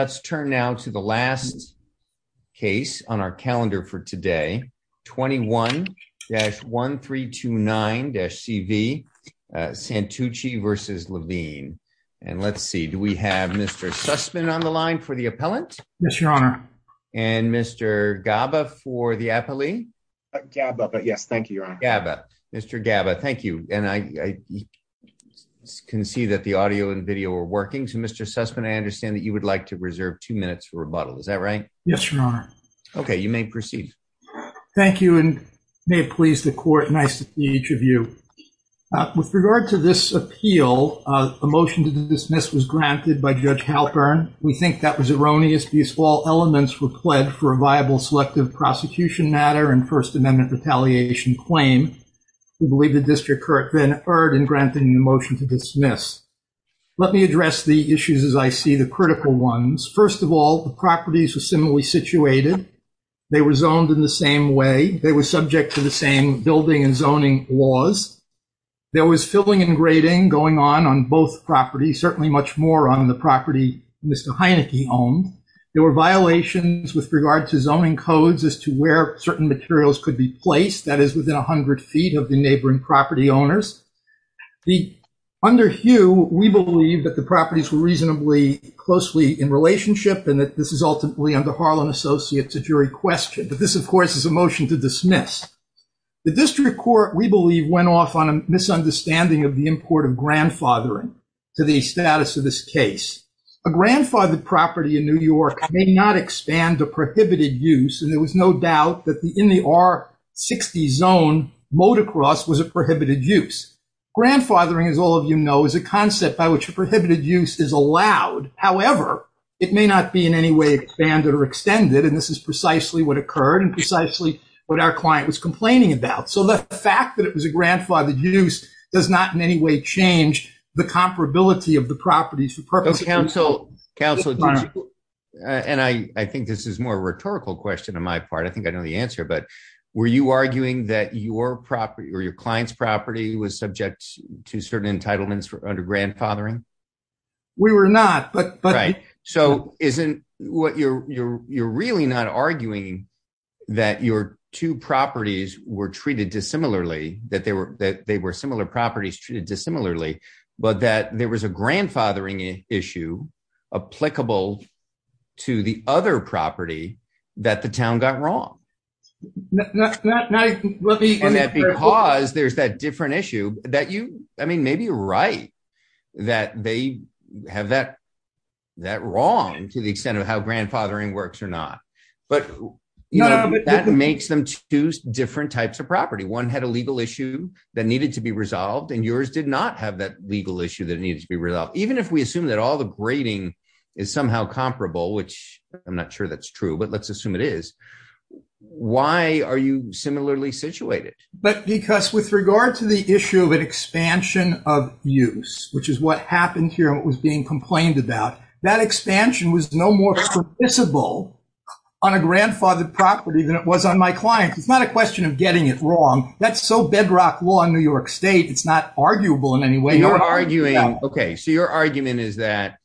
Let's turn now to the last case on our calendar for today, 21-1329-CV, Santucci v. Levine. And let's see, do we have Mr. Sussman on the line for the appellant? Yes, your honor. And Mr. Gaba for the appellee? Gaba, but yes, thank you, your honor. Mr. Gaba, thank you. And I can see that the audio and video are working. So, Mr. Sussman, I understand that you would like to reserve two minutes for rebuttal, is that right? Yes, your honor. Okay, you may proceed. Thank you, and may it please the court, nice to see each of you. With regard to this appeal, a motion to dismiss was granted by Judge Halpern. We think that was erroneous because all elements were pled for a viable selective prosecution matter and First Amendment retaliation claim. We believe the district court then erred in granting the motion to dismiss. Let me address the issues as I see the critical ones. First of all, the properties were similarly situated. They were zoned in the same way. They were subject to the same building and zoning laws. There was filling and grading going on on both properties, certainly much more on the property Mr. Heinecke owned. There were violations with regard to zoning codes as to where certain materials could be placed, that is, within 100 feet of the neighboring property owners. Under Hugh, we believe that the properties were reasonably closely in relationship and that this is ultimately under Harlan Associates' jury question. But this, of course, is a motion to dismiss. The district court, we believe, went off on a misunderstanding of the import of grandfathering to the status of this case. A grandfathered property in New York may not expand to prohibited use, and there was no doubt that in the R-60 zone, motocross was a prohibited use. Grandfathering, as all of you know, is a concept by which a prohibited use is allowed. However, it may not be in any way expanded or extended, and this is precisely what occurred and precisely what our client was complaining about. So the fact that it was a grandfathered use does not in any way change the comparability of the properties for purpose of approval. And I think this is more of a rhetorical question on my part. I think I know the answer. But were you arguing that your client's property was subject to certain entitlements under grandfathering? We were not. Right. So you're really not arguing that your two properties were treated dissimilarly, that they were similar properties treated dissimilarly, but that there was a grandfathering issue applicable to the other property that the town got wrong? Not really. And that because there's that different issue that you, I mean, maybe you're right that they have that wrong to the extent of how grandfathering works or not. But that makes them two different types of property. One had a legal issue that needed to be resolved, and yours did not have that legal issue that needed to be resolved. Even if we assume that all the grading is somehow comparable, which I'm not sure that's true, but let's assume it is, why are you similarly situated? But because with regard to the issue of an expansion of use, which is what happened here and what was being complained about, that expansion was no more permissible on a grandfathered property than it was on my client. It's not a question of getting it wrong. That's so bedrock law in New York State, it's not arguable in any way. Okay, so your argument is that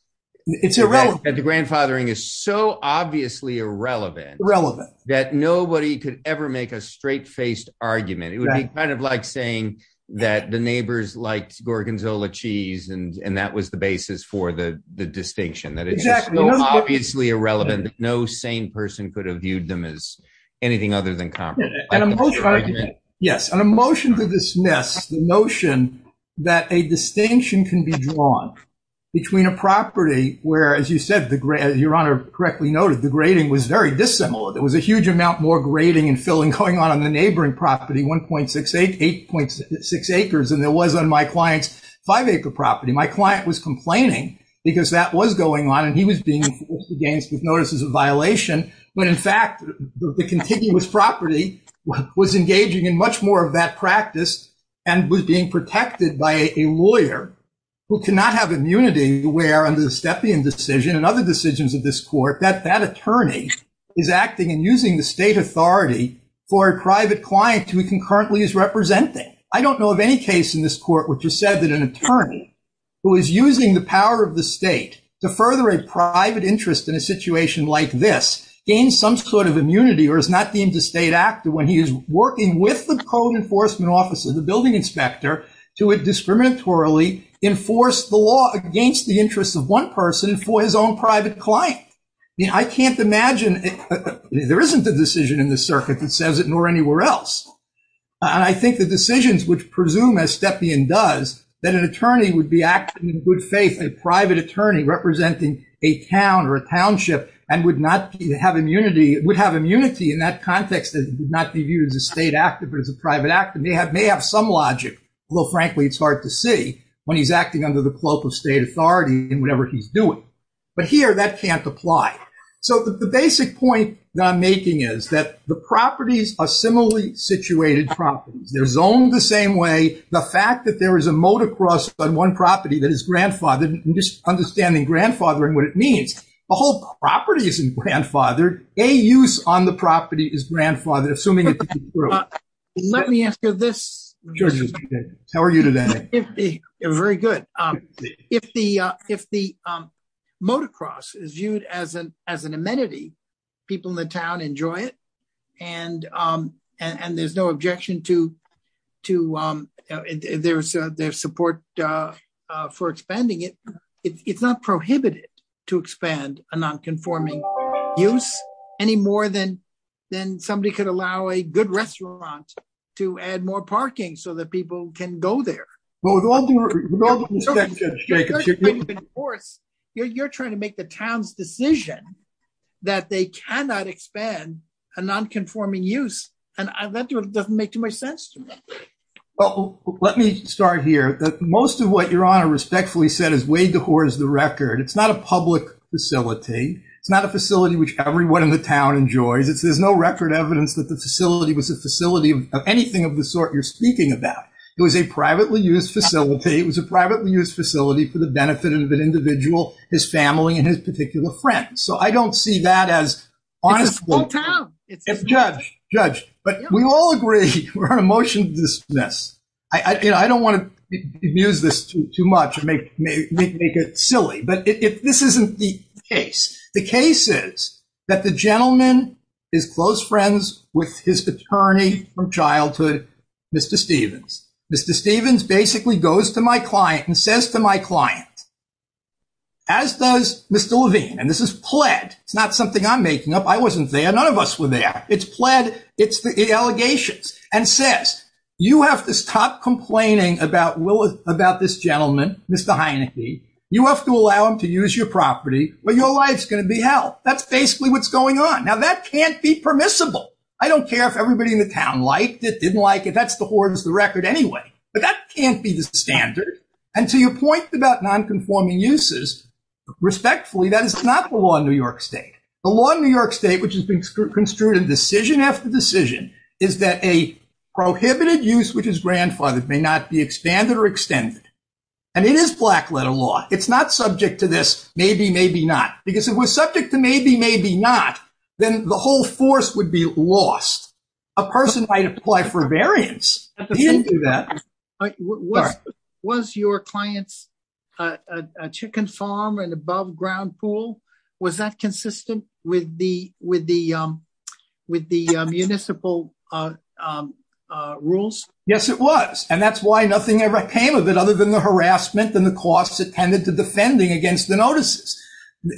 the grandfathering is so obviously irrelevant that nobody could ever make a straight-faced argument. It would be kind of like saying that the neighbors liked gorgonzola cheese and that was the basis for the distinction, that it's just so obviously irrelevant that no sane person could have viewed them as anything other than comparable. Yes, and a motion to dismiss the notion that a distinction can be drawn between a property where, as you said, your Honor correctly noted, the grading was very dissimilar. There was a huge amount more grading and filling going on on the neighboring property, 1.68, 8.6 acres than there was on my client's 5-acre property. My client was complaining because that was going on and he was being enforced against with notices of violation when, in fact, the continuous property was engaging in much more of that practice and was being protected by a lawyer who cannot have immunity where, under the Stepien decision and other decisions of this court, that that attorney is acting and using the state authority for a private client who he concurrently is representing. I don't know of any case in this court which has said that an attorney who is using the power of the state to further a private interest in a situation like this gains some sort of immunity or is not deemed a state actor when he is working with the code enforcement officer, the building inspector, to discriminatorily enforce the law against the interests of one person for his own private client. You know, I can't imagine—there isn't a decision in this circuit that says it, nor anywhere else. And I think the decisions which presume, as Stepien does, that an attorney would be acting in good faith, a private attorney representing a town or a township, and would have immunity in that context that would not be viewed as a state actor but as a private actor may have some logic, although, frankly, it's hard to see when he's acting under the cloak of state authority in whatever he's doing. But here, that can't apply. So the basic point that I'm making is that the properties are similarly situated properties. They're zoned the same way. The fact that there is a motocross on one property that is grandfathered, understanding grandfathering what it means, the whole property isn't grandfathered. A use on the property is grandfathered, assuming it's true. Let me answer this. How are you today? Very good. If the motocross is viewed as an amenity, people in the town enjoy it, and there's no objection to their support for expanding it. It's not prohibited to expand a nonconforming use any more than somebody could allow a good restaurant to add more parking so that people can go there. You're trying to make the town's decision that they cannot expand a nonconforming use, and that doesn't make too much sense to me. Well, let me start here. Most of what Your Honor respectfully said is way before the record. It's not a public facility. It's not a facility which everyone in the town enjoys. There's no record evidence that the facility was a facility of anything of the sort you're speaking about. It was a privately used facility. It was a privately used facility for the benefit of an individual, his family, and his particular friends. So I don't see that as honestly. It's a small town. Judge, judge, but we all agree we're on a motion to dismiss. I don't want to abuse this too much and make it silly, but this isn't the case. The case is that the gentleman is close friends with his attorney from childhood, Mr. Stevens. Mr. Stevens basically goes to my client and says to my client, as does Mr. Levine, and this is pled. It's not something I'm making up. I wasn't there. None of us were there. It's pled. It's the allegations. You have to stop complaining about this gentleman, Mr. Heineke. You have to allow him to use your property or your life's going to be hell. That's basically what's going on. Now, that can't be permissible. I don't care if everybody in the town liked it, didn't like it. That's the horror of the record anyway, but that can't be the standard. And to your point about nonconforming uses, respectfully, that is not the law in New York State. The law in New York State, which has been construed in decision after decision, is that a prohibited use, which is grandfathered, may not be expanded or extended. And it is black letter law. It's not subject to this maybe, maybe not. Because if it was subject to maybe, maybe not, then the whole force would be lost. A person might apply for a variance. He didn't do that. Was your client's chicken farm an above ground pool? Was that consistent with the municipal rules? Yes, it was. And that's why nothing ever came of it other than the harassment and the costs it tended to defending against the notices.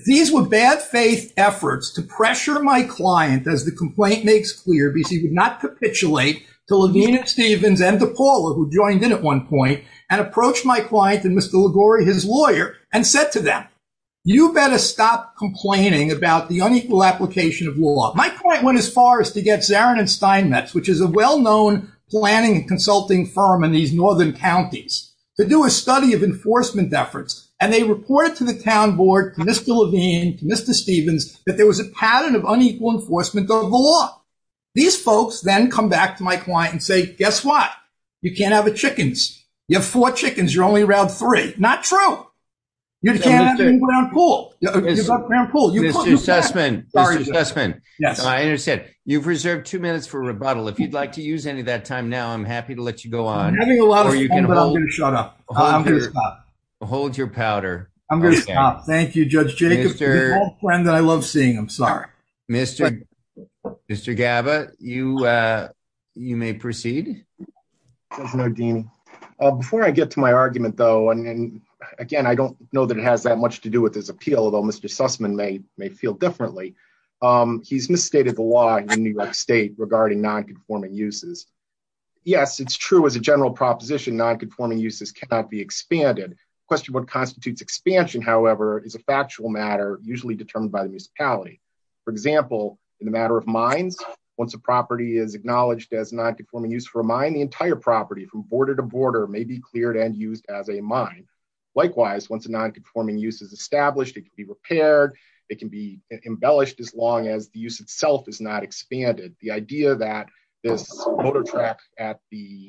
These were bad faith efforts to pressure my client, as the complaint makes clear, because he would not capitulate to Levine and Stevens and to Paula, who joined in at one point, and approached my client and Mr. Liguori, his lawyer, and said to them, you better stop complaining about the unequal application of law. My point went as far as to get Zarin and Steinmetz, which is a well-known planning and consulting firm in these northern counties, to do a study of enforcement efforts. And they reported to the town board, to Mr. Levine, to Mr. Stevens, that there was a pattern of unequal enforcement of the law. These folks then come back to my client and say, guess what? You can't have chickens. You have four chickens. You're only allowed three. Not true. You can't have an above ground pool. Mr. Chessman. Mr. Chessman. Yes. I understand. You've reserved two minutes for rebuttal. If you'd like to use any of that time now, I'm happy to let you go on. I'm having a lot of fun, but I'm going to shut up. I'm going to stop. Hold your powder. I'm going to stop. Thank you, Judge Jacobs. You're the friend that I love seeing. I'm sorry. Mr. Gabba, you may proceed. No, Dean. Before I get to my argument though, and again, I don't know that it has that much to do with his appeal, although Mr. Sussman may feel differently. He's misstated the law in New York state regarding nonconforming uses. Yes, it's true. As a general proposition, nonconforming uses cannot be expanded. Question what constitutes expansion, however, is a factual matter, usually determined by the municipality. For example, in the matter of mines, once a property is acknowledged as nonconforming use for a mine, the entire property from border to border may be cleared and used as a mine. Likewise, once a nonconforming use is established, it can be repaired. It can be embellished as long as the use itself is not expanded. The idea that this motor track at the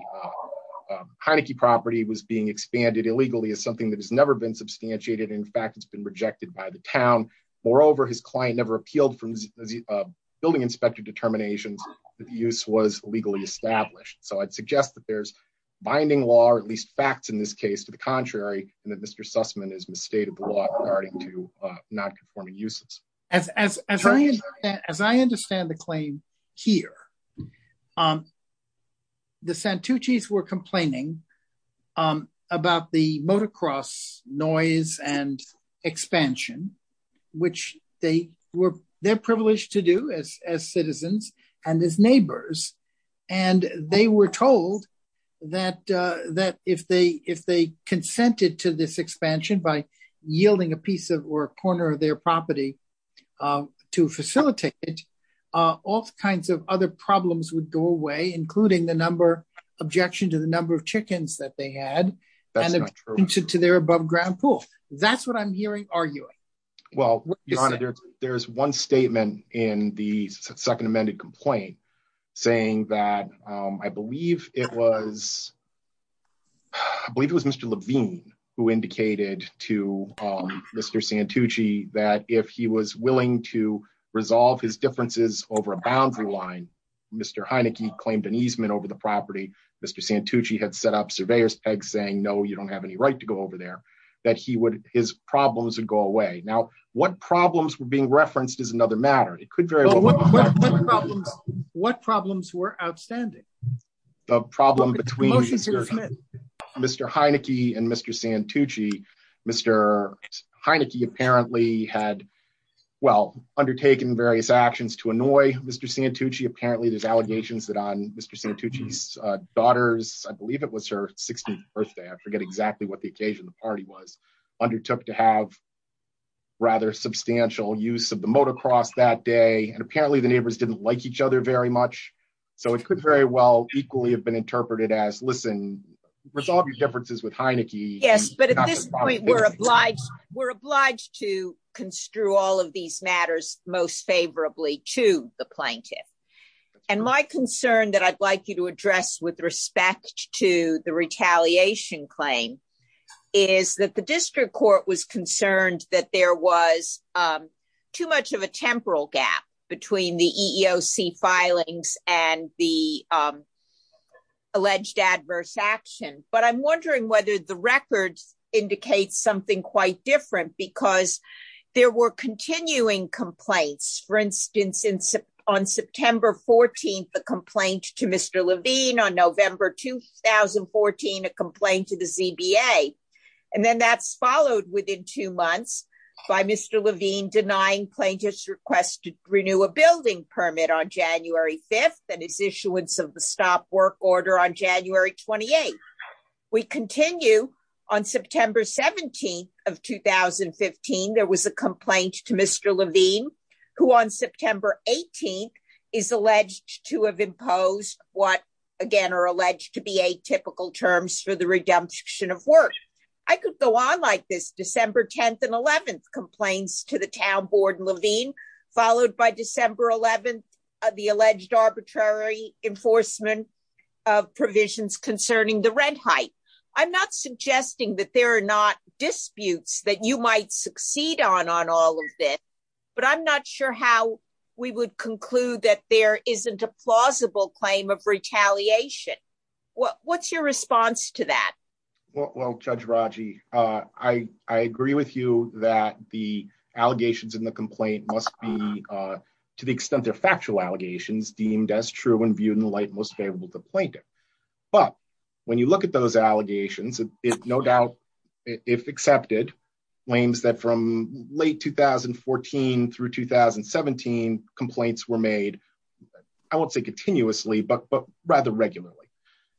Heineke property was being expanded illegally is something that has never been substantiated. In fact, it's been rejected by the town. Moreover, his client never appealed from the building inspector determinations that the use was legally established. So I'd suggest that there's binding law, or at least facts in this case, to the contrary, and that Mr. Sussman is misstated the law regarding to nonconforming uses. As I understand the claim here, the Santucci's were complaining about the motocross noise and expansion, which they were privileged to do as citizens and as neighbors. And they were told that that if they if they consented to this expansion by yielding a piece of or a corner of their property to facilitate it, all kinds of other problems would go away, including the number objection to the number of chickens that they had to their above ground pool. That's what I'm hearing arguing. Well, there's one statement in the second amended complaint saying that I believe it was. I believe it was Mr. Levine who indicated to Mr. Santucci that if he was willing to resolve his differences over a boundary line, Mr. Heineke claimed an easement over the property. Mr. Santucci had set up surveyors saying, no, you don't have any right to go over there, that he would his problems would go away. Now, what problems were being referenced is another matter. It could very well. What problems were outstanding? The problem between Mr. Heineke and Mr. Santucci. Mr. Heineke apparently had, well, undertaken various actions to annoy Mr. Santucci. Apparently there's allegations that on Mr. Santucci's daughter's, I believe it was her 16th birthday. I forget exactly what the occasion the party was undertook to have rather substantial use of the motocross that day. And apparently the neighbors didn't like each other very much. So it could very well equally have been interpreted as, listen, resolve your differences with Heineke. Yes, but at this point, we're obliged. We're obliged to construe all of these matters most favorably to the plaintiff. And my concern that I'd like you to address with respect to the retaliation claim is that the district court was concerned that there was too much of a temporal gap between the EEOC filings and the alleged adverse action. But I'm wondering whether the records indicate something quite different because there were continuing complaints. For instance, on September 14th, a complaint to Mr. Levine on November 2014, a complaint to the ZBA. And then that's followed within two months by Mr. Levine denying plaintiffs request to renew a building permit on January 5th and his issuance of the stop work order on January 28th. We continue on September 17th of 2015, there was a complaint to Mr. Levine, who on September 18th is alleged to have imposed what again are alleged to be atypical terms for the redemption of work. I could go on like this December 10th and 11th complaints to the town board Levine, followed by December 11th, the alleged arbitrary enforcement of provisions concerning the red height. I'm not suggesting that there are not disputes that you might succeed on on all of this, but I'm not sure how we would conclude that there isn't a plausible claim of retaliation. What's your response to that? Well, Judge Raji, I agree with you that the allegations in the complaint must be, to the extent they're factual allegations deemed as true and viewed in the light most favorable to plaintiff. But when you look at those allegations, it's no doubt, if accepted, claims that from late 2014 through 2017 complaints were made. I won't say continuously but but rather regularly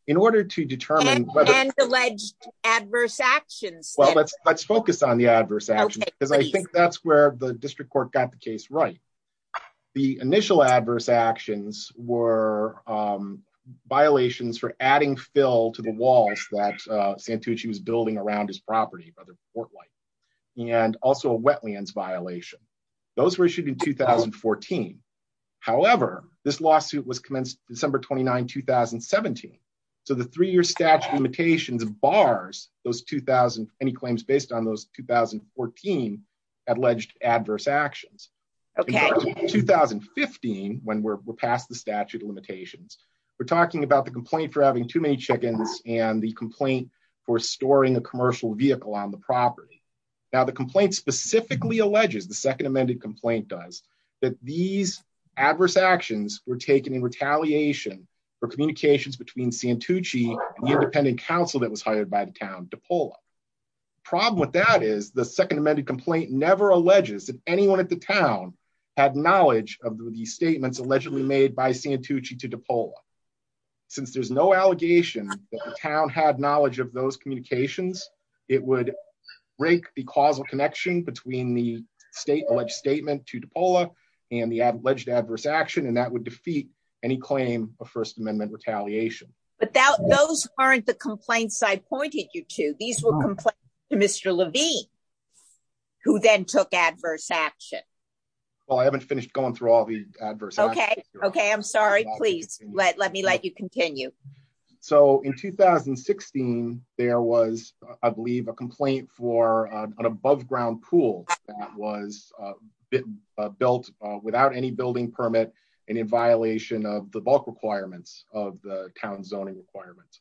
in order to determine whether alleged adverse actions. Well, let's let's focus on the adverse action, because I think that's where the district court got the case right. The initial adverse actions were violations for adding fill to the walls that Santucci was building around his property by the port light, and also a wetlands violation. Those were issued in 2014. However, this lawsuit was commenced December 29 2017. So the three year statute limitations bars, those 2000 any claims based on those 2014 alleged adverse actions. 2015 when we're past the statute of limitations. We're talking about the complaint for having too many chickens, and the complaint for storing a commercial vehicle on the property. Now the complaint specifically alleges the second amended complaint does that these adverse actions were taken in retaliation for communications between Santucci independent counsel that was hired by the town to pull up problem with that is the second amended complaint never alleges that anyone at the town had knowledge of the statements allegedly made by Santucci to depot. Since there's no allegation that the town had knowledge of those communications, it would break the causal connection between the state alleged statement to depot and the alleged adverse action and that would defeat any claim of First Amendment retaliation, but who then took adverse action. Well I haven't finished going through all the adverse. Okay. Okay, I'm sorry, please let me let you continue. So in 2016, there was, I believe a complaint for an above ground pool was built without any building permit and in violation of the bulk requirements of the town zoning requirements.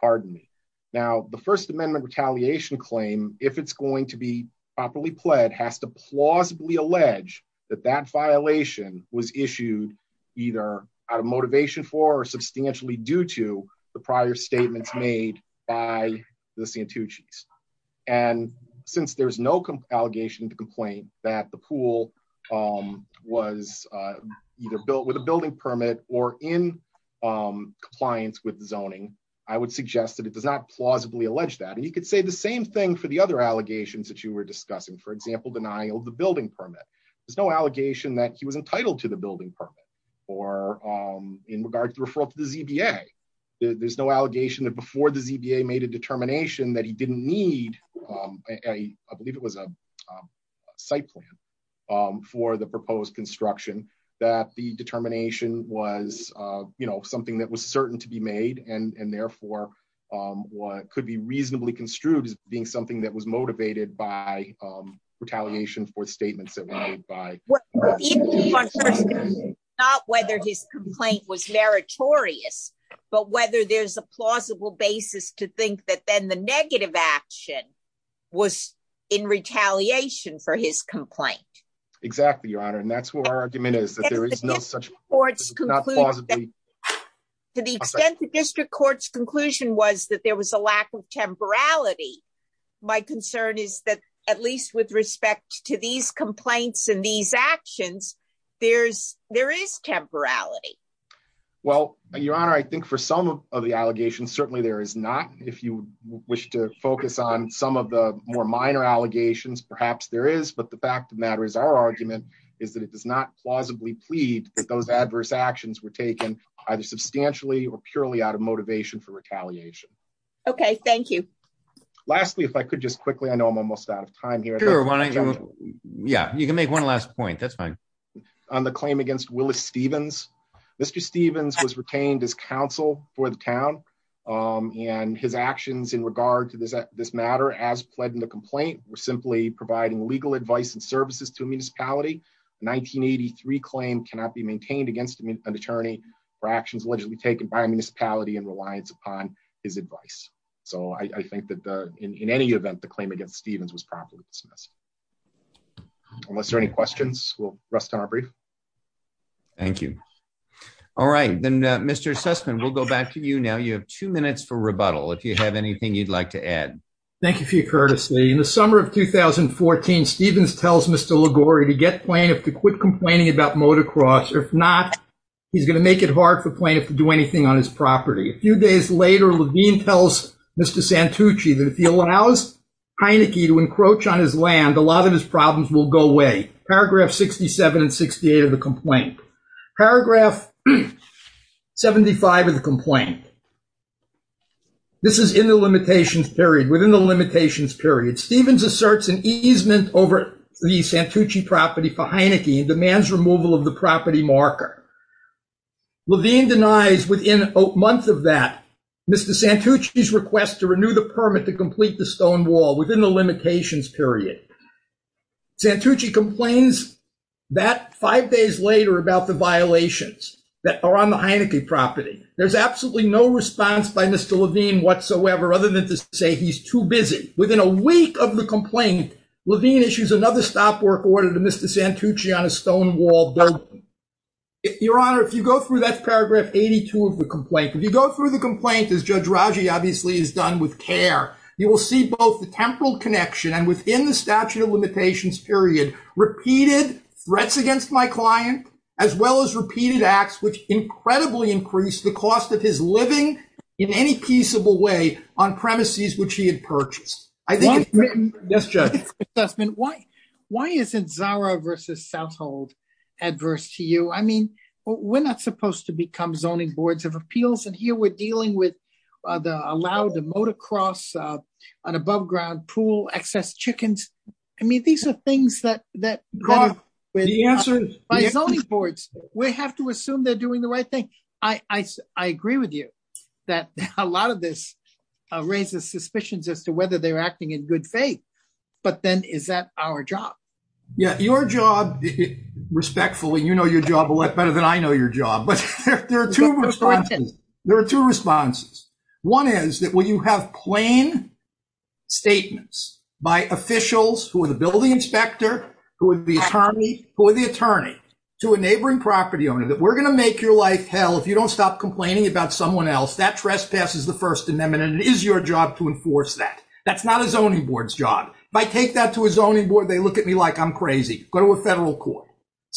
Pardon me. Now, the First Amendment retaliation claim, if it's going to be properly pled has to plausibly allege that that violation was issued, either out of motivation for substantially due to the prior statements made by the Santucci. And since there's no allegation to complain that the pool was either built with a building permit or in compliance with zoning, I would suggest that it does not plausibly allege that and you could say the same thing for the other allegations that you were discussing for example denial of the building permit. There's no allegation that he was entitled to the building permit, or in regard to the ZBA, there's no allegation that before the ZBA made a determination that he didn't need a, I believe it was a site plan for the retaliation for statements that were made by, not whether his complaint was meritorious, but whether there's a plausible basis to think that then the negative action was in retaliation for his complaint. Exactly, Your Honor, and that's what our argument is that there is no such courts. To the extent the district courts conclusion was that there was a lack of temporality. My concern is that, at least with respect to these complaints and these actions. There's, there is temporality. Well, Your Honor, I think for some of the allegations certainly there is not, if you wish to focus on some of the more minor allegations perhaps there is but the fact of the matter is our argument is that it does not plausibly plead that those adverse actions were taken either substantially or purely out of motivation for retaliation. Okay, thank you. Lastly, if I could just quickly I know I'm almost out of time here. Yeah, you can make one last point that's fine. On the claim against Willis Stevens. Mr. Stevens was retained as counsel for the town, and his actions in regard to this, this matter as pledged in the complaint were simply providing legal advice and services to municipality 1983 claim cannot be maintained against an attorney for actions allegedly taken by municipality and reliance upon his advice. So I think that in any event the claim against Stevens was properly dismissed. Unless there are any questions, we'll rest on our brief. Thank you. All right, then, Mr Sussman we'll go back to you now you have two minutes for rebuttal if you have anything you'd like to add. Thank you for your courtesy in the summer of 2014 Stevens tells Mr Liguori to get plaintiff to quit complaining about motocross or if not, he's going to make it hard for plaintiff to do anything on his property. A few days later Levine tells Mr Santucci that if he allows Heineke to encroach on his land a lot of his problems will go away. Paragraph 67 and 68 of the complaint. Paragraph 75 of the complaint. This is in the limitations period within the limitations period Stevens asserts an easement over the Santucci property for Heineke demands removal of the property marker. Levine denies within a month of that Mr Santucci's request to renew the permit to complete the stonewall within the limitations period. Santucci complains that five days later about the violations that are on the Heineke property. There's absolutely no response by Mr Levine whatsoever, other than to say he's too busy within a week of the complaint. Levine issues another stop work order to Mr Santucci on a stonewall building. Your Honor, if you go through that paragraph 82 of the complaint, if you go through the complaint as Judge Raji obviously is done with care, you will see both the temporal connection and within the statute of limitations period repeated threats against my client as well as repeated acts, which incredibly increased the cost of his living in any peaceable way on premises, which he had purchased. Yes, Judge. Why, why isn't Zara versus Southhold adverse to you? I mean, we're not supposed to become zoning boards of appeals and here we're dealing with the allowed to motocross an above ground pool excess chickens. I mean, these are things that, that by zoning boards, we have to assume they're doing the right thing. I, I, I agree with you that a lot of this raises suspicions as to whether they're acting in good faith, but then is that our job? Yeah, your job respectfully, you know, your job a lot better than I know your job, but there are 2 responses. There are 2 responses. 1 is that when you have plain statements by officials who are the building inspector, who are the attorney, who are the attorney to a neighboring property owner that we're going to make your life hell. If you don't stop complaining about someone else that trespasses the 1st amendment, and it is your job to enforce that. That's not a zoning boards job. If I take that to a zoning board, they look at me like I'm crazy. Go to a federal court.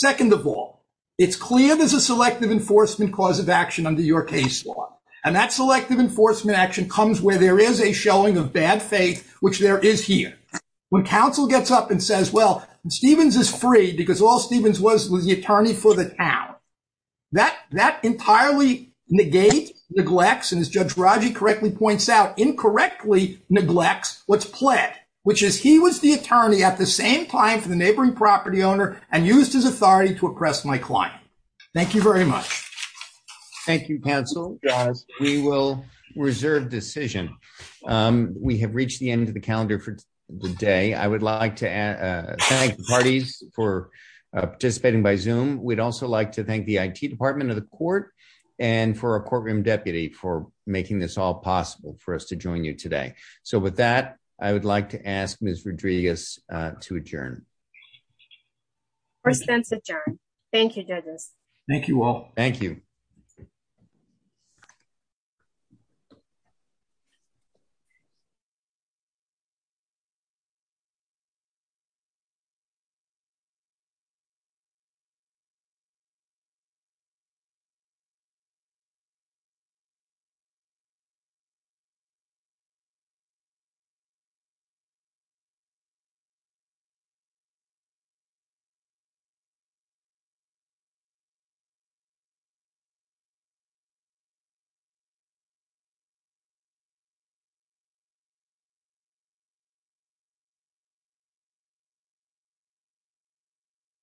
2nd of all, it's clear there's a selective enforcement cause of action under your case law and that selective enforcement action comes where there is a showing of bad faith, which there is here when counsel gets up and says, well, Stevens is free because all Stevens was the attorney for the town. That entirely negate, neglects, and as Judge Raji correctly points out, incorrectly neglects what's pled, which is he was the attorney at the same time for the neighboring property owner and used his authority to oppress my client. Thank you very much. Thank you counsel. We will reserve decision. We have reached the end of the calendar for the day I would like to thank parties for participating by zoom, we'd also like to thank the IT department of the court, and for a courtroom deputy for making this all possible for us to join you today. So with that, I would like to ask Miss Rodriguez to adjourn. Thank you judges. Thank you all. Thank you. Thank you.